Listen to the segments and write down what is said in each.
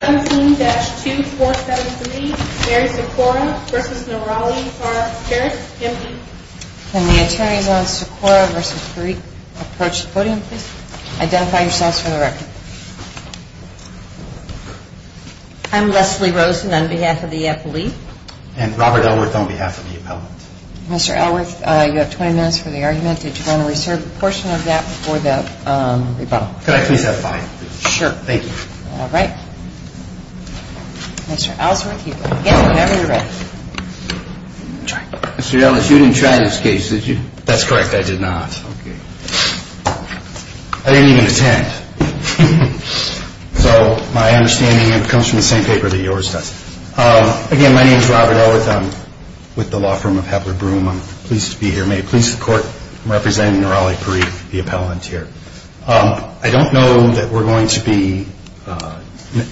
Can the attorneys on Sikora v. Parikh approach the podium please? Identify yourselves for the record. I'm Leslie Rosen on behalf of the appellate. And Robert Elworth on behalf of the appellate. Mr. Elworth, you have 20 minutes for the argument. Did you want to Mr. Elworth, you didn't try this case, did you? That's correct, I did not. I didn't even attend. So my understanding comes from the same paper that yours does. Again, my name is Robert Elworth. I'm with the law firm of Hepler Broome. I'm pleased to be here. May it please the Court, I'm representing Raleigh Parikh, the appellant here. I don't know that we're going to be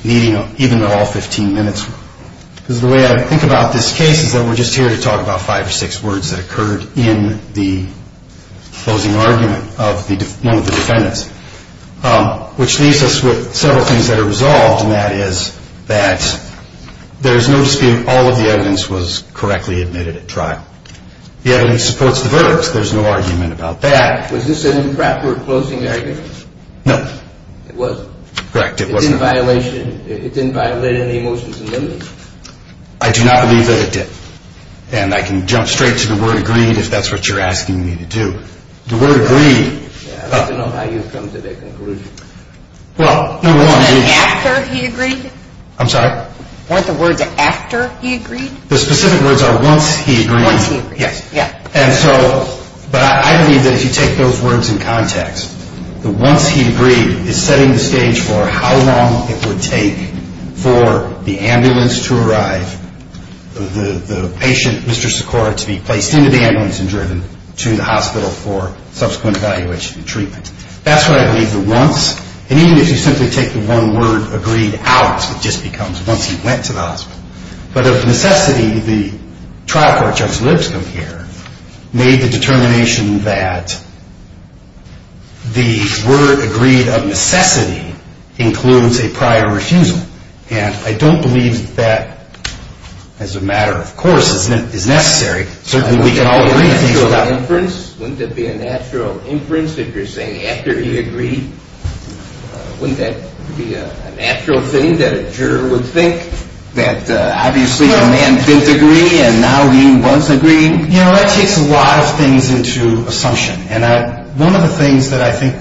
meeting even at all 15 minutes. Because the way I think about this case is that we're just here to talk about five or six words that occurred in the closing argument of one of the defendants. Which leaves us with several things that are resolved, and that is that there is no dispute all of the evidence was correctly admitted at trial. The evidence supports the verdict. There's no argument about that. Was this an improper closing argument? No. It wasn't? Correct, it wasn't. It didn't violate any emotions and limits? I do not believe that it did. And I can jump straight to the word agreed if that's what you're asking me to do. The word agreed... I'd like to know how you've come to that conclusion. Well, number one... Wasn't it after he agreed? I'm sorry? Weren't the words after he agreed? The specific words are once he agreed. Once he agreed. Yes. And so... But I believe that if you take those words in context, the once he agreed is setting the stage for how long it would take for the ambulance to arrive, the patient, Mr. Sikora, to be placed into the ambulance and driven to the hospital for subsequent evaluation and treatment. That's what I believe the once... And even if you simply take the one word agreed out, it just becomes once he went to the hospital. But of necessity, the trial court Judge Lipscomb here made the determination that the word agreed of necessity includes a prior refusal. And I don't believe that as a matter of course is necessary. Certainly we can all agree... Wouldn't that be a natural inference? Wouldn't it be a natural inference if you're saying after he agreed? Wouldn't that be a natural thing that a juror would think? That obviously a man didn't agree and now he once agreed. You know, that takes a lot of things into assumption. And one of the things that I think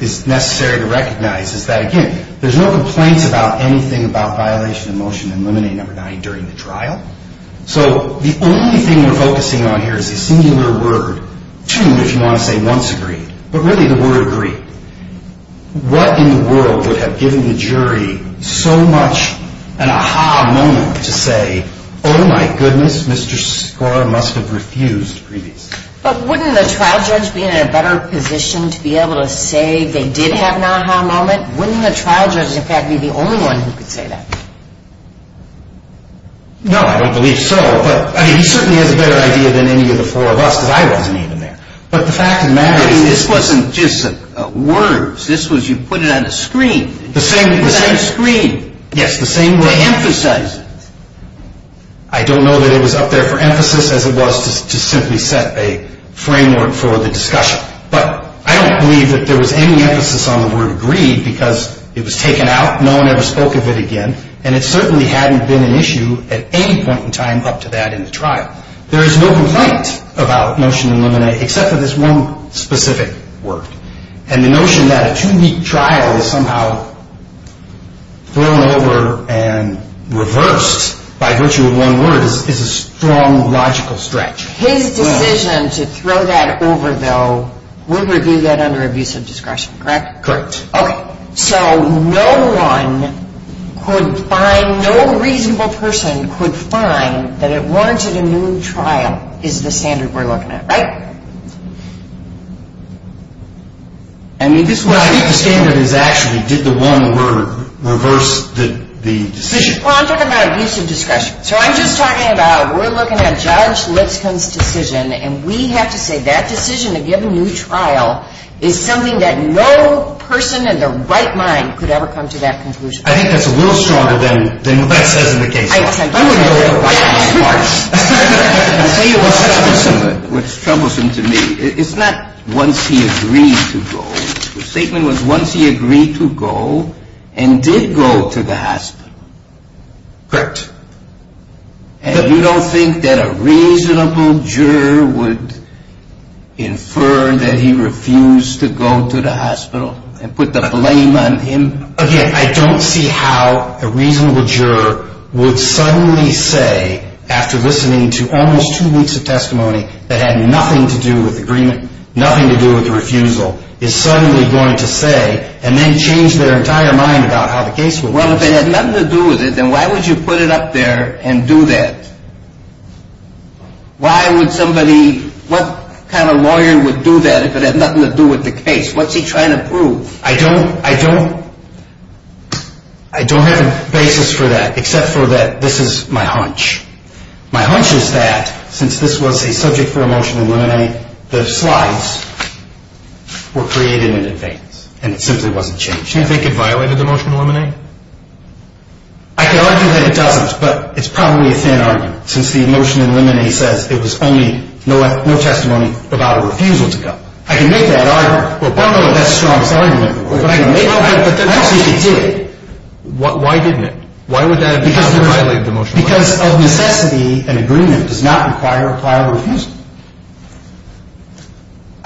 is necessary to recognize is that, again, there's no complaints about anything about violation of motion in limine number nine during the trial. So the only thing we're focusing on here is the singular word to, if you want to say once agreed, but really the word agreed. What in the world would have given the jury so much an a-ha moment to say, oh my goodness, Mr. Skora must have refused previously. But wouldn't the trial judge be in a better position to be able to say they did have an a-ha moment? Wouldn't the trial judge in fact be the only one who could say that? No, I don't believe so. But I mean, he certainly has a better idea than any of the four of us because I wasn't even there. But the fact of the matter is... This wasn't just words. This was you put it on a screen. You put it on a screen. Yes, the same... To emphasize it. I don't know that it was up there for emphasis as it was to simply set a framework for the discussion. But I don't believe that there was any emphasis on the word agreed because it was taken out. No one ever spoke of it again. And it certainly hadn't been an issue at any point in time up to that in the trial. There is no complaint about motion in limine except for this one specific word. And the notion that a two week trial is somehow thrown over and reversed by virtue of one word is a strong logical stretch. His decision to throw that over though would review that under abusive discretion, correct? Correct. Okay. So no one could find, no reasonable person could find that it warranted a new trial is the standard we're looking at, right? I think the standard is actually did the one word reverse the decision. Well, I'm talking about abusive discretion. So I'm just talking about we're looking at Judge Lipscomb's decision and we have to say that decision to give a new trial is something that no person in their right mind could ever come to that conclusion. I think that's a little stronger than what that says in the case. I wouldn't know what the right answer is. I'll tell you what's troublesome to me. It's not once he agreed to go. The statement was once he agreed to go and did go to the hospital. Correct. And you don't think that a reasonable juror would infer that he refused to go to the hospital and put the blame on him? Again, I don't see how a reasonable juror would suddenly say after listening to almost two weeks of testimony that had nothing to do with agreement, nothing to do with the refusal, is suddenly going to say and then change their entire mind about how the case would work. Well, if it had nothing to do with it, then why would you put it up there and do that? Why would somebody, what kind of lawyer would do that if it had nothing to do with the case? What's he trying to prove? I don't have a basis for that except for that this is my hunch. My hunch is that since this was a subject for a motion to eliminate, the slides were created in advance and it simply wasn't changed. Do you think it violated the motion to eliminate? I can argue that it doesn't, but it's probably a thin argument since the motion to eliminate says it was only no testimony about a refusal to go. I can make that argument. I don't know if that's the strongest argument, but I can make that argument. I don't think it did. Why didn't it? Why would that have violated the motion? Because of necessity, an agreement does not require a violable refusal.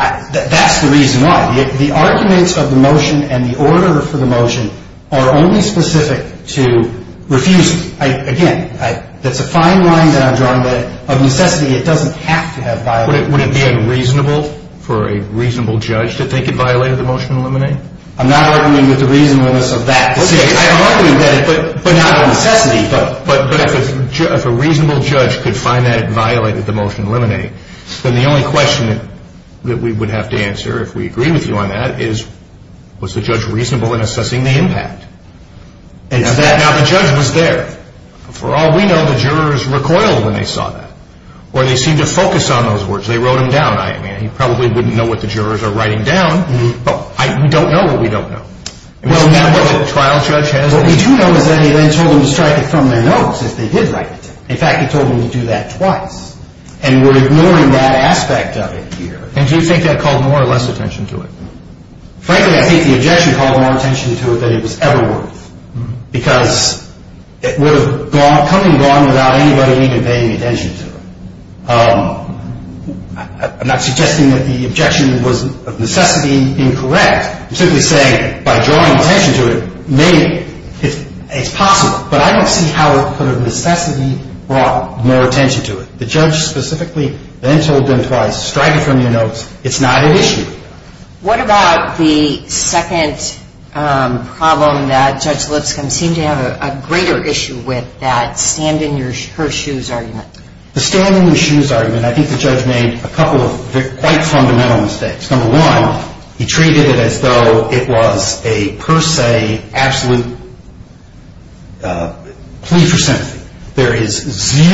That's the reason why. The arguments of the motion and the order for the motion are only specific to refusal. Again, that's a fine line that I've drawn, but of necessity, it doesn't have to have violated the motion. Would it be unreasonable for a reasonable judge to think it violated the motion to eliminate? I'm not arguing with the reasonableness of that. I can argue that, but not of necessity. But if a reasonable judge could find that it violated the motion to eliminate, then the only question that we would have to answer if we agree with you on that is was the judge reasonable in assessing the impact? Now, the judge was there. For all we know, the jurors recoiled when they saw that or they seemed to focus on those words. They wrote them down. He probably wouldn't know what the jurors are writing down. We don't know what we don't know. What we do know is that he then told them to strike it from their notes if they did write it. In fact, he told them to do that twice. And we're ignoring that aspect of it here. And do you think that called more or less attention to it? Frankly, I think the objection called more attention to it than it was ever worth because it would have come and gone without anybody even paying attention to it. I'm not suggesting that the objection was of necessity incorrect. I'm simply saying by drawing attention to it, maybe it's possible. But I don't see how it could have necessarily brought more attention to it. The judge specifically then told them to strike it from their notes. It's not an issue. What about the second problem that Judge Lipscomb seemed to have a greater issue with, that stand-in-her-shoes argument? The stand-in-her-shoes argument, I think the judge made a couple of quite fundamental mistakes. Number one, he treated it as though it was a per se absolute plea for sympathy. He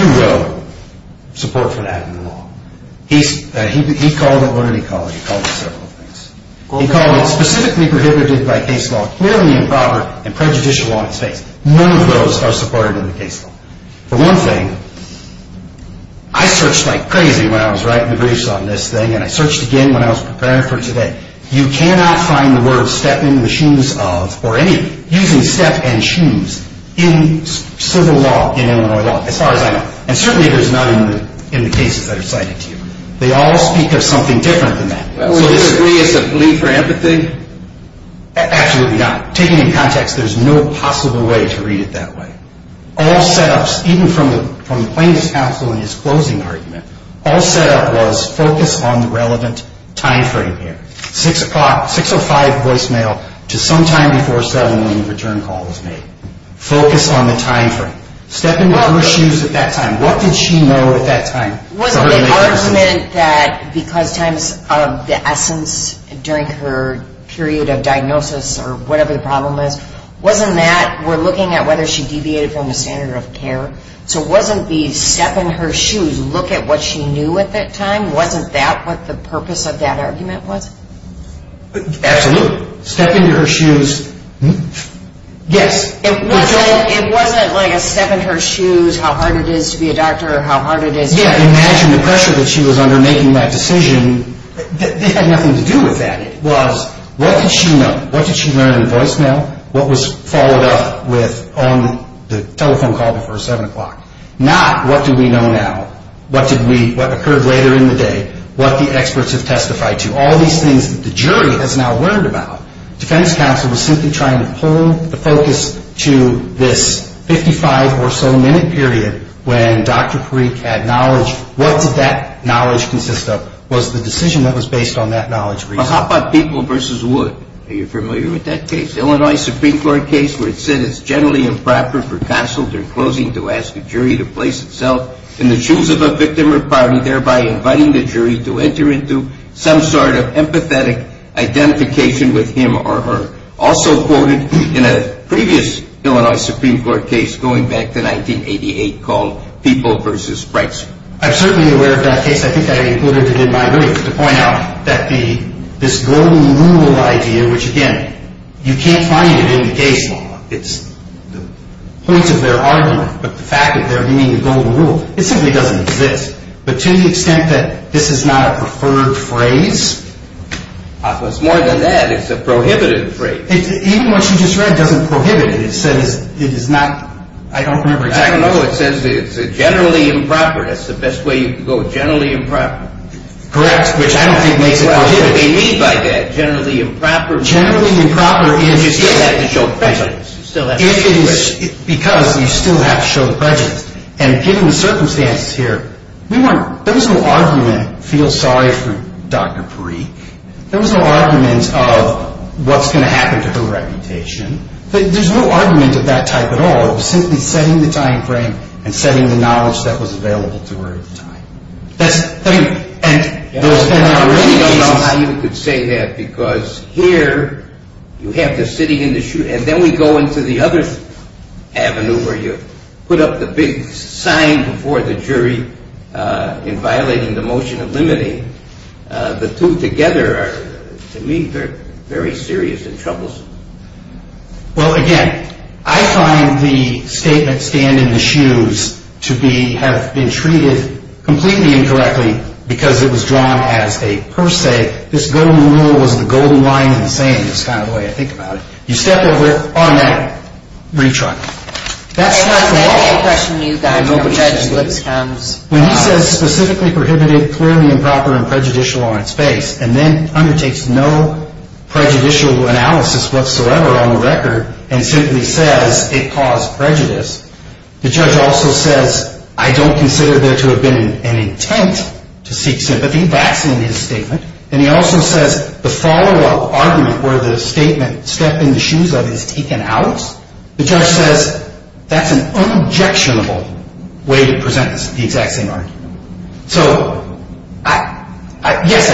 called it what did he call it? He called it several things. He called it specifically prohibited by case law, clearly improper and prejudicial on its face. None of those are supported in the case law. For one thing, I searched like crazy when I was writing the briefs on this thing, and I searched again when I was preparing for today. You cannot find the word step in the shoes of or any using step and shoes in civil law, in Illinois law, as far as I know. And certainly there's none in the cases that are cited to you. They all speak of something different than that. Would you agree it's a plea for empathy? Absolutely not. Taken in context, there's no possible way to read it that way. All set-ups, even from the plaintiff's counsel in his closing argument, all set-up was focus on the relevant time frame here, 6 o'clock, 6 or 5 voicemail to sometime before 7 when the return call was made. Focus on the time frame. Step into her shoes at that time. What did she know at that time? Wasn't the argument that because times of the essence during her period of diagnosis or whatever the problem is, wasn't that we're looking at whether she deviated from the standard of care? So wasn't the step in her shoes, look at what she knew at that time, wasn't that what the purpose of that argument was? Absolutely. Step into her shoes. Yes. It wasn't like a step in her shoes how hard it is to be a doctor or how hard it is. Yeah, imagine the pressure that she was under making that decision. It had nothing to do with that. It was what did she know? What did she learn in the voicemail? What was followed up with on the telephone call before 7 o'clock? Not what do we know now? What did we, what occurred later in the day? What the experts have testified to? All these things that the jury has now learned about. Defense counsel was simply trying to pull the focus to this 55 or so minute period when Dr. Parikh had knowledge. What did that knowledge consist of? Was the decision that was based on that knowledge. Well, how about People v. Wood? Are you familiar with that case? Illinois Supreme Court case where it said it's generally improper for counsel during closing to ask a jury to place itself in the shoes of a victim or party, thereby inviting the jury to enter into some sort of empathetic identification with him or her. Also quoted in a previous Illinois Supreme Court case going back to 1988 called People v. Brightson. I'm certainly aware of that case. I think I included it in my brief to point out that the, this golden rule idea, which again, you can't find it in the case law. It's the points of their argument, but the fact that they're meeting the golden rule, it simply doesn't exist. But to the extent that this is not a preferred phrase. Well, it's more than that. It's a prohibited phrase. Even what you just read doesn't prohibit it. It says it is not, I don't remember exactly. I don't know. It says it's generally improper. That's the best way you can go, generally improper. Correct, which I don't think makes it prohibited. What do they mean by that, generally improper? Generally improper is. You still have to show prejudice. You still have to show prejudice. It is because you still have to show prejudice. And given the circumstances here, we weren't, there was no argument, feel sorry for Dr. Parikh. There was no argument of what's going to happen to her reputation. There's no argument of that type at all. It was simply setting the time frame and setting the knowledge that was available to her at the time. That's, I mean, and there's been already cases. I don't know how you could say that, because here you have the city in the shoe, and then we go into the other avenue where you put up the big sign before the jury in violating the motion of limiting. The two together are, to me, very serious and troublesome. Well, again, I find the statement, stand in the shoes, to be, have been treated completely incorrectly because it was drawn as a per se. This golden rule was the golden line in the saying. That's kind of the way I think about it. You step over on that retrial. That's not the law. When he says specifically prohibited, clearly improper, and prejudicial are in space, and then undertakes no prejudicial analysis whatsoever on the record and simply says it caused prejudice, the judge also says, I don't consider there to have been an intent to seek sympathy. That's in his statement. And he also says the follow-up argument where the statement step in the shoes of is taken out, the judge says that's an unobjectionable way to present the exact same argument. So, yes,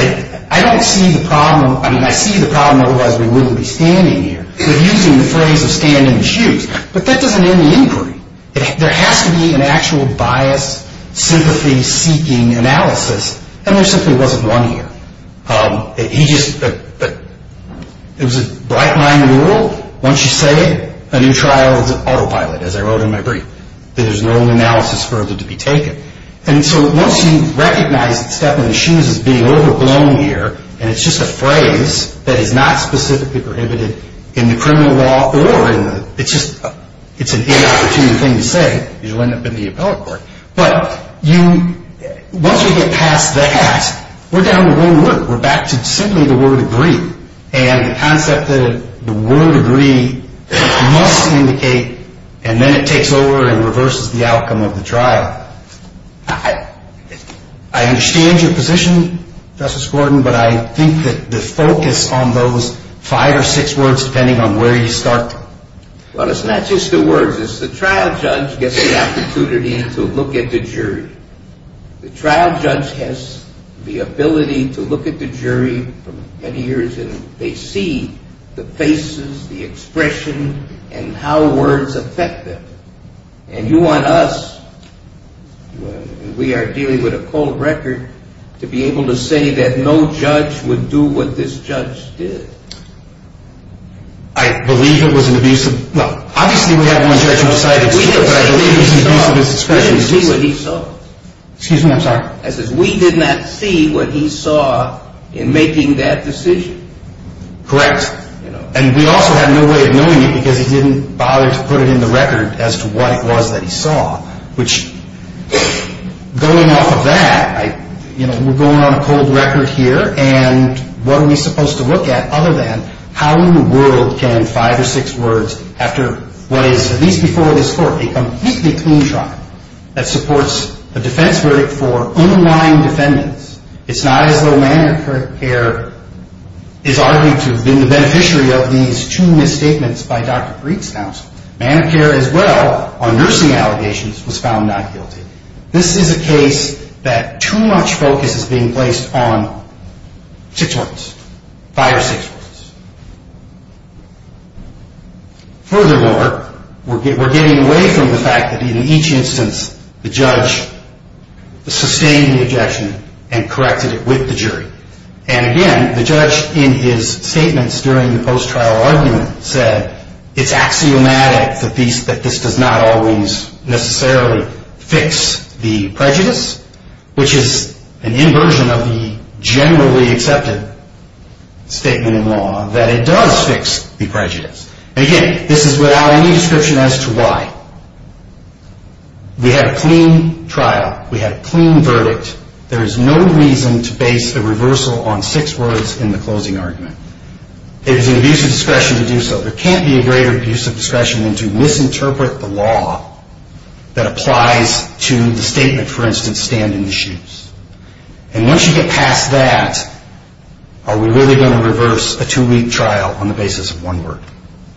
I don't see the problem. I mean, I see the problem, otherwise we wouldn't be standing here. We're using the phrase of stand in the shoes. But that doesn't end the inquiry. There has to be an actual bias, sympathy-seeking analysis, and there simply wasn't one here. He just, it was a bright line rule. Once you say it, a new trial is an autopilot, as I wrote in my brief. There's no analysis further to be taken. And so once you recognize that step in the shoes is being overblown here, and it's just a phrase that is not specifically prohibited in the criminal law or in the, it's just, it's an inopportune thing to say because you'll end up in the appellate court. But you, once you get past that, we're down to one word. We're back to simply the word agree. And the concept that the word agree must indicate, and then it takes over and reverses the outcome of the trial. I understand your position, Justice Gordon, but I think that the focus on those five or six words, depending on where you start. Well, it's not just the words. It's the trial judge gets the opportunity to look at the jury. The trial judge has the ability to look at the jury for many years, and they see the faces, the expression, and how words affect them. And you want us, when we are dealing with a cold record, to be able to say that no judge would do what this judge did. I believe it was an abuse of, well, obviously we have one judge who decided to do it, but I believe it was an abuse of his expression. We didn't see what he saw. Excuse me, I'm sorry. I said we did not see what he saw in making that decision. Correct. And we also had no way of knowing it because he didn't bother to put it in the record as to what it was that he saw, which going off of that, you know, we're going on a cold record here, and what are we supposed to look at other than how in the world can five or six words, after what is, at least before this court, a completely clean trial that supports a defense verdict for underlying defendants. It's not as though Medicare is arguably to have been the beneficiary of these two misstatements by Dr. Preet's counsel. Medicare as well, on nursing allegations, was found not guilty. This is a case that too much focus is being placed on six words, five or six words. Furthermore, we're getting away from the fact that in each instance the judge sustained the objection and corrected it with the jury. And again, the judge in his statements during the post-trial argument said, it's axiomatic that this does not always necessarily fix the prejudice, which is an inversion of the generally accepted statement in law that it does fix the prejudice. Again, this is without any description as to why. We had a clean trial. We had a clean verdict. There is no reason to base a reversal on six words in the closing argument. It is an abuse of discretion to do so. There can't be a greater abuse of discretion than to misinterpret the law that applies to the statement, for instance, stand in the shoes. And once you get past that, are we really going to reverse a two-week trial on the basis of one word?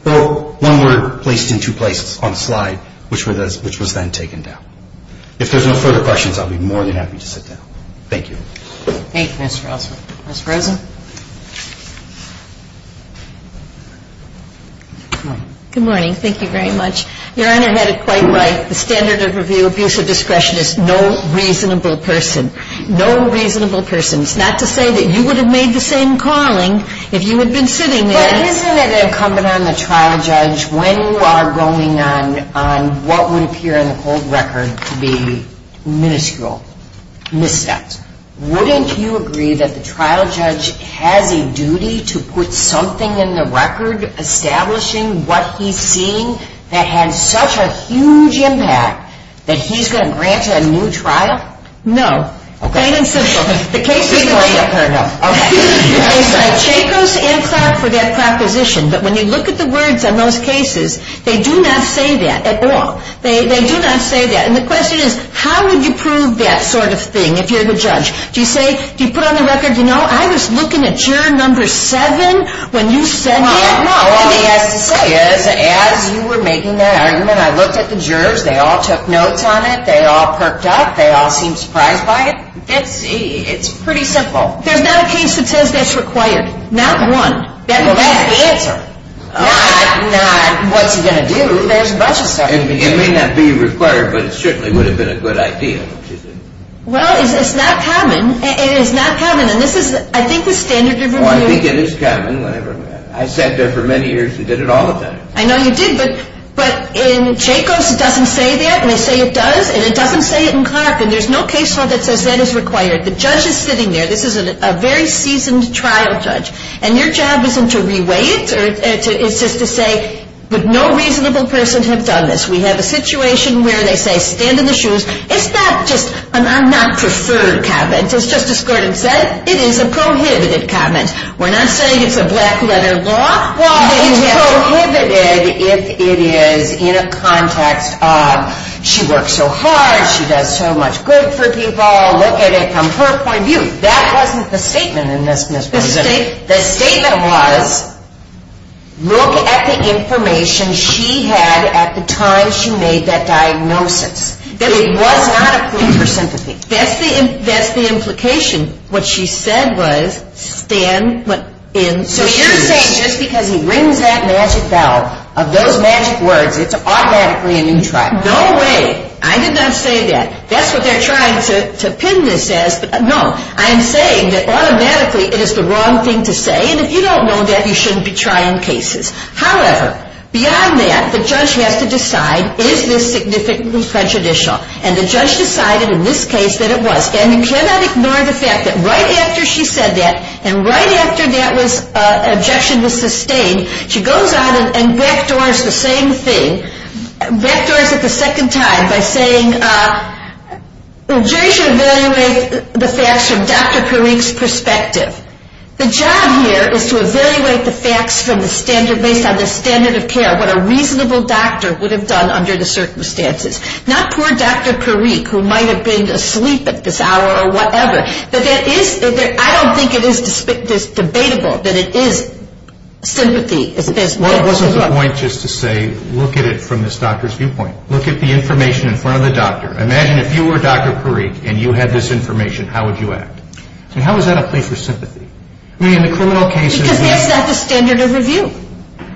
Well, one word placed in two places on the slide, which was then taken down. If there's no further questions, I'll be more than happy to sit down. Thank you. Thank you, Mr. Osler. Ms. Rosen? Good morning. Thank you very much. Your Honor had it quite right. The standard of abuse of discretion is no reasonable person. No reasonable person. It's not to say that you would have made the same calling if you had been sitting there. Isn't it incumbent on the trial judge, when you are going on what would appear in the cold record to be miniscule missteps, wouldn't you agree that the trial judge has a duty to put something in the record establishing what he's seeing that has such a huge impact that he's going to grant you a new trial? No. Okay. It's plain and simple. The case is plain enough. Okay. They cite Jacobs and Clark for that proposition. But when you look at the words on those cases, they do not say that at all. They do not say that. And the question is, how would you prove that sort of thing if you're the judge? Do you say, do you put on the record, you know, I was looking at juror number seven when you said that? No. All he has to say is, as you were making that argument, I looked at the jurors. They all took notes on it. They all perked up. They all seemed surprised by it. It's pretty simple. There's not a case that says that's required. Not one. Well, that's the answer. Not what's he going to do. There's a bunch of stuff. It may not be required, but it certainly would have been a good idea. Well, it's not common. It is not common. And this is, I think, the standard of review. Well, I think it is common. I sat there for many years and did it all the time. I know you did. But in Jacobs, it doesn't say that. And they say it does. And it doesn't say it in Clark. And there's no case law that says that is required. The judge is sitting there. This is a very seasoned trial judge. And your job isn't to reweigh it. It's just to say, but no reasonable person has done this. We have a situation where they say, stand in the shoes. It's not just an I'm-not-preferred comment, as Justice Gordon said. It is a prohibited comment. We're not saying it's a black-letter law. Well, it's prohibited if it is in a context of she works so hard, she does so much good for people. Look at it from her point of view. That wasn't the statement in this, Ms. Rosen. The statement was, look at the information she had at the time she made that diagnosis. It was not a point for sympathy. That's the implication. What she said was, stand in the shoes. So you're saying just because he rings that magic bell of those magic words, it's automatically a new trial. No way. I did not say that. That's what they're trying to pin this as. No, I'm saying that automatically it is the wrong thing to say. And if you don't know that, you shouldn't be trying cases. However, beyond that, the judge has to decide, is this significantly contradictional? And the judge decided in this case that it was. And you cannot ignore the fact that right after she said that and right after that objection was sustained, she goes out and backdoors the same thing, backdoors it the second time by saying, the jury should evaluate the facts from Dr. Parikh's perspective. The job here is to evaluate the facts from the standard, based on the standard of care, what a reasonable doctor would have done under the circumstances. Not poor Dr. Parikh, who might have been asleep at this hour or whatever. I don't think it is debatable that it is sympathy. Well, it wasn't the point just to say, look at it from this doctor's viewpoint. Look at the information in front of the doctor. Imagine if you were Dr. Parikh and you had this information, how would you act? How is that a plea for sympathy? Because that's not the standard of review.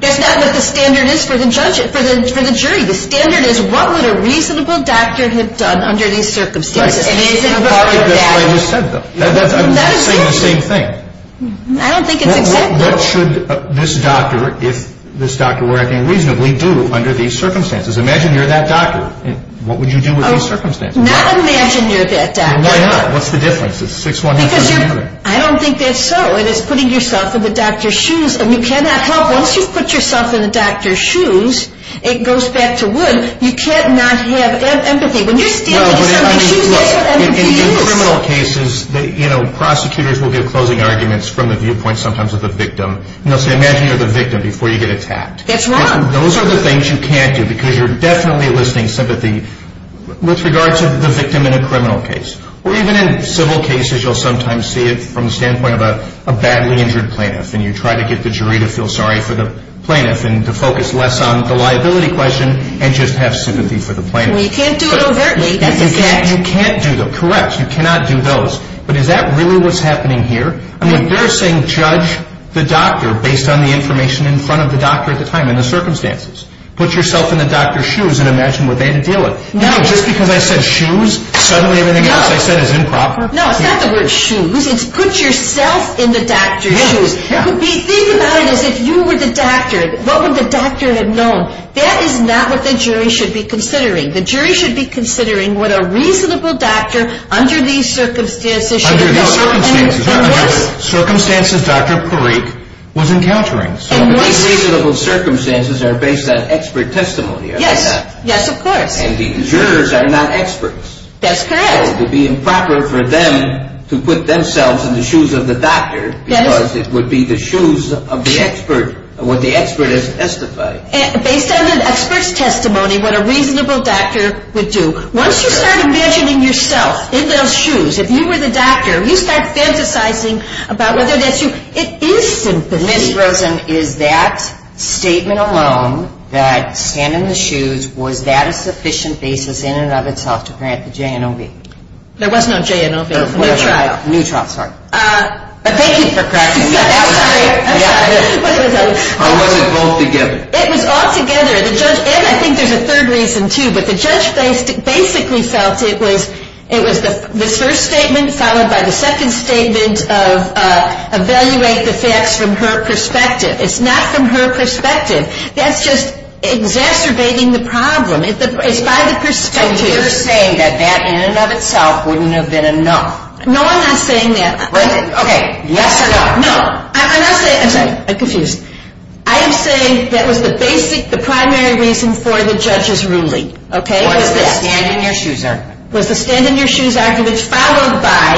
That's not what the standard is for the jury. The standard is, what would a reasonable doctor have done under these circumstances? And isn't Dr. Parikh what I just said, though? I'm saying the same thing. I don't think it's acceptable. What should this doctor, if this doctor were acting reasonably, do under these circumstances? Imagine you're that doctor. What would you do under these circumstances? Not imagine you're that doctor. Why not? What's the difference? I don't think that's so. It is putting yourself in the doctor's shoes. Once you've put yourself in the doctor's shoes, it goes back to wood. You can't not have empathy. When you're standing in somebody's shoes, that's what empathy is. In criminal cases, prosecutors will give closing arguments from the viewpoint sometimes of the victim. They'll say, imagine you're the victim before you get attacked. That's wrong. Those are the things you can't do because you're definitely listing sympathy with regard to the victim in a criminal case. Or even in civil cases, you'll sometimes see it from the standpoint of a badly injured plaintiff and you try to get the jury to feel sorry for the plaintiff and to focus less on the liability question and just have sympathy for the plaintiff. Well, you can't do it overtly. That's a fact. You can't do them. Correct. You cannot do those. But is that really what's happening here? I mean, they're saying judge the doctor based on the information in front of the doctor at the time, in the circumstances. Put yourself in the doctor's shoes and imagine what they had to deal with. No, just because I said shoes, suddenly everything else I said is improper? No, it's not the word shoes. It's put yourself in the doctor's shoes. Think about it as if you were the doctor. What would the doctor have known? That is not what the jury should be considering. The jury should be considering what a reasonable doctor under these circumstances should be doing. Under these circumstances. Under the circumstances Dr. Parikh was encountering. These reasonable circumstances are based on expert testimony, are they not? Yes. Yes, of course. And the jurors are not experts. That's correct. It would be improper for them to put themselves in the shoes of the doctor because it would be the shoes of the expert, what the expert has testified. Based on the expert's testimony, what a reasonable doctor would do. Once you start imagining yourself in those shoes, if you were the doctor, you start fantasizing about whether that's you. It is sympathy. Ms. Rosen, is that statement alone, that stand in the shoes, was that a sufficient basis in and of itself to grant the J&OB? There was no J&OB. Neutrality. Neutrality, sorry. Thank you for correcting me. I'm sorry. I was going to tell you. Or was it both together? It was all together. And I think there's a third reason, too. But the judge basically felt it was this first statement followed by the second statement of evaluate the facts from her perspective. It's not from her perspective. That's just exacerbating the problem. It's by the perspective. So you're saying that that in and of itself wouldn't have been enough. No, I'm not saying that. Okay. Yes or no? No. I'm not saying it. I'm sorry. I'm confused. I'm saying that was the basic, the primary reason for the judge's ruling, okay, was this. Was the stand in your shoes argument. Was the stand in your shoes argument followed by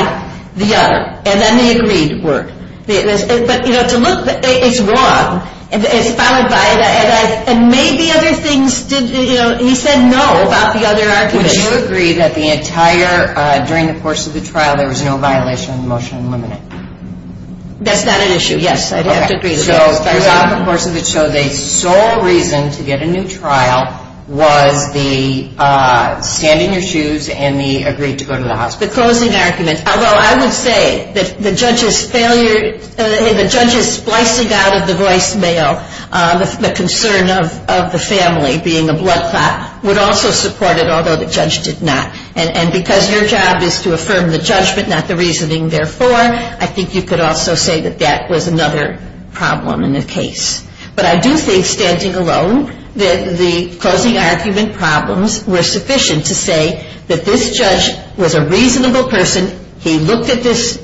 the other, and then the agreed word. But, you know, to look, it's wrong. It's followed by, and maybe other things did, you know, he said no about the other argument. Would you agree that the entire, during the course of the trial, there was no violation of the motion unlimited? That's not an issue, yes. I'd have to agree to that. So throughout the course of the trial, the sole reason to get a new trial was the stand in your shoes and the agreed to go to the hospital. The closing argument, although I would say that the judge's failure, the judge's splicing out of the voicemail, the concern of the family being a blood clot, would also support it, although the judge did not. And because your job is to affirm the judgment, not the reasoning, therefore, I think you could also say that that was another problem in the case. But I do think, standing alone, that the closing argument problems were sufficient to say that this judge was a reasonable person. He looked at this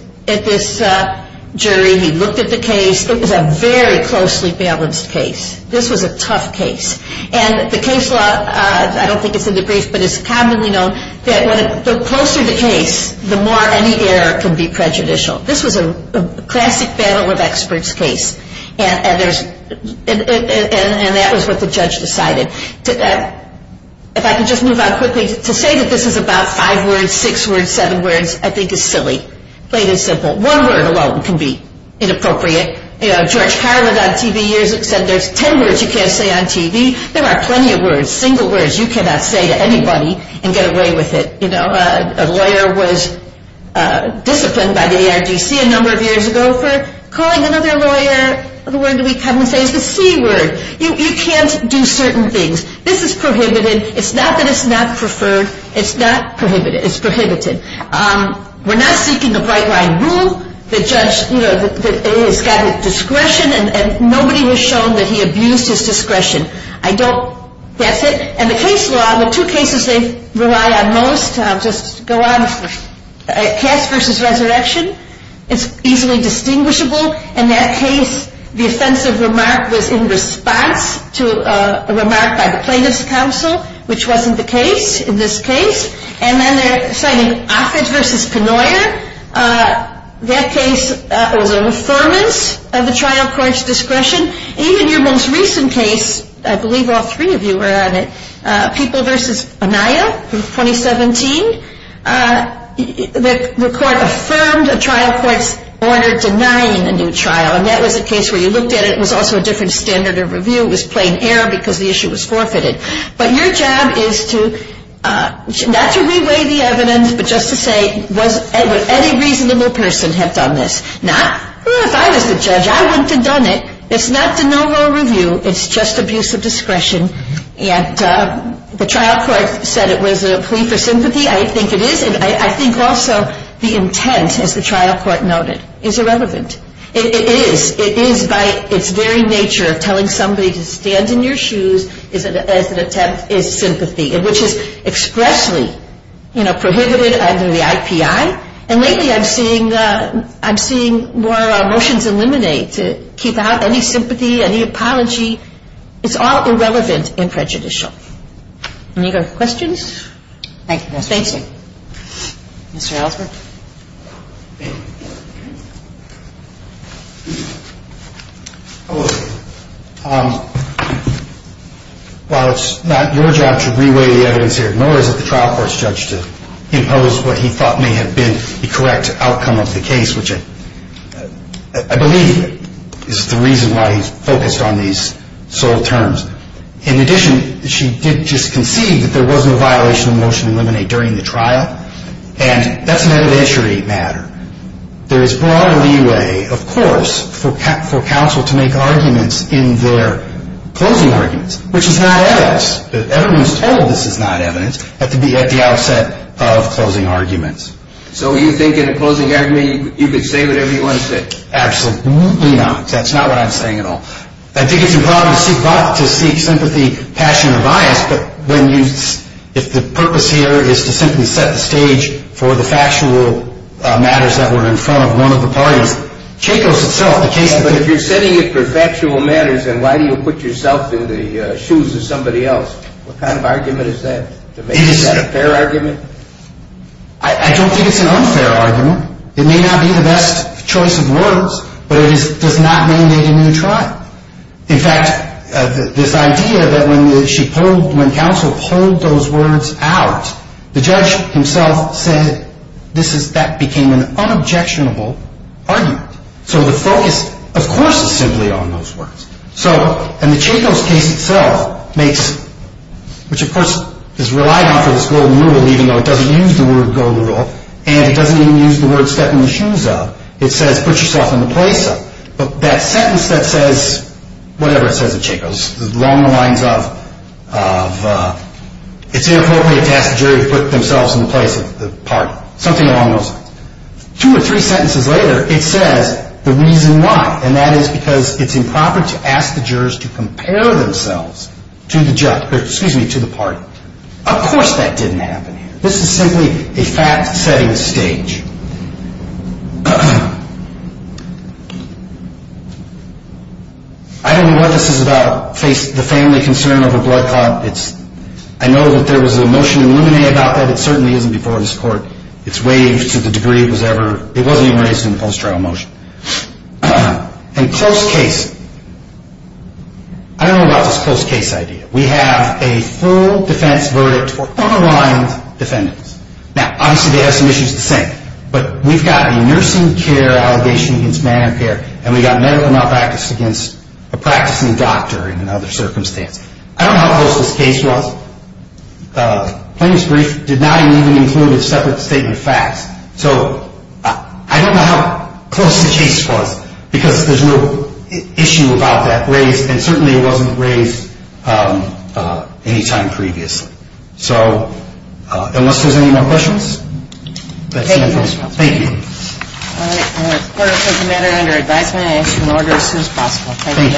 jury. He looked at the case. It was a very closely balanced case. This was a tough case. And the case law, I don't think it's in the briefs, but it's commonly known that the closer the case, the more any error can be prejudicial. This was a classic battle of experts case. And that was what the judge decided. If I could just move on quickly. To say that this is about five words, six words, seven words, I think is silly. Plain and simple. One word alone can be inappropriate. George Carlin on TV years said there's ten words you can't say on TV. There are plenty of words, single words you cannot say to anybody and get away with it. A lawyer was disciplined by the ARGC a number of years ago for calling another lawyer. The word we come and say is the C word. You can't do certain things. This is prohibited. It's not that it's not preferred. It's not prohibited. It's prohibited. We're not seeking a bright line rule. The judge has discretion and nobody was shown that he abused his discretion. That's it. And the case law, the two cases they rely on most, I'll just go on. Cass v. Resurrection is easily distinguishable. In that case, the offensive remark was in response to a remark by the plaintiff's counsel, which wasn't the case in this case. And then they're citing Offit v. Penoyer. That case was an affirmance of the trial court's discretion. In your most recent case, I believe all three of you were on it, People v. Anaya, 2017, the court affirmed a trial court's order denying a new trial. And that was a case where you looked at it. It was also a different standard of review. It was plain error because the issue was forfeited. But your job is to not to reweigh the evidence, but just to say, would any reasonable person have done this? Not, if I was the judge, I wouldn't have done it. It's not de novo review. It's just abuse of discretion. And the trial court said it was a plea for sympathy. I think it is. And I think also the intent, as the trial court noted, is irrelevant. It is. It is by its very nature, telling somebody to stand in your shoes as an attempt is sympathy, which is expressly, you know, prohibited under the IPI. And lately I'm seeing more motions eliminate to keep out any sympathy, any apology. It's all irrelevant and prejudicial. Any other questions? Thank you, Justice Ginsburg. Thank you. Mr. Ellsberg? Hello. While it's not your job to reweigh the evidence here, nor is it the trial court's judge to impose what he thought may have been the correct outcome of the case, which I believe is the reason why he's focused on these sole terms. In addition, she did just concede that there was no violation of motion eliminate during the trial, and that's an evidentiary matter. There is broader leeway, of course, for counsel to make arguments in their closing arguments, which is not evidence. The evidence told, this is not evidence, but to be at the outset of closing arguments. So you think in a closing argument you could say whatever you want to say? Absolutely not. That's not what I'm saying at all. I think it's improper to seek sympathy, passion, or bias, if the purpose here is to simply set the stage for the factual matters that were in front of one of the parties. Chacos itself, the case of the case. But if you're setting it for factual matters, then why do you put yourself in the shoes of somebody else? What kind of argument is that? Is that a fair argument? I don't think it's an unfair argument. It may not be the best choice of words, but it does not mandate a new trial. In fact, this idea that when counsel pulled those words out, the judge himself said that became an unobjectionable argument. So the focus, of course, is simply on those words. And the Chacos case itself makes, which of course is relied on for this golden rule, even though it doesn't use the word golden rule, and it doesn't even use the word step in the shoes of. It says put yourself in the place of. But that sentence that says, whatever it says of Chacos, along the lines of, it's inappropriate to ask the jury to put themselves in the place of the party. Something along those lines. Two or three sentences later, it says the reason why, and that is because it's improper to ask the jurors to compare themselves to the party. Of course that didn't happen here. This is simply a fact-setting stage. I don't know what this is about the family concern over blood clots. I know that there was a motion in Luminae about that. It certainly isn't before this court. It's waived to the degree it was ever. It wasn't even raised in the post-trial motion. And close case. I don't know about this close case idea. We have a full defense verdict for underlined defendants. Now, obviously they have some issues to say. But we've got a nursing care allegation against Medicare, and we've got medical malpractice against a practicing doctor in another circumstance. I don't know how close this case was. Plaintiff's brief did not even include a separate statement of facts. So I don't know how close the case was because there's no issue about that raised, and certainly it wasn't raised any time previously. So unless there's any more questions. Thank you. Thank you. All right. Court is open to matter under advisement and action orders as soon as possible. Thank you.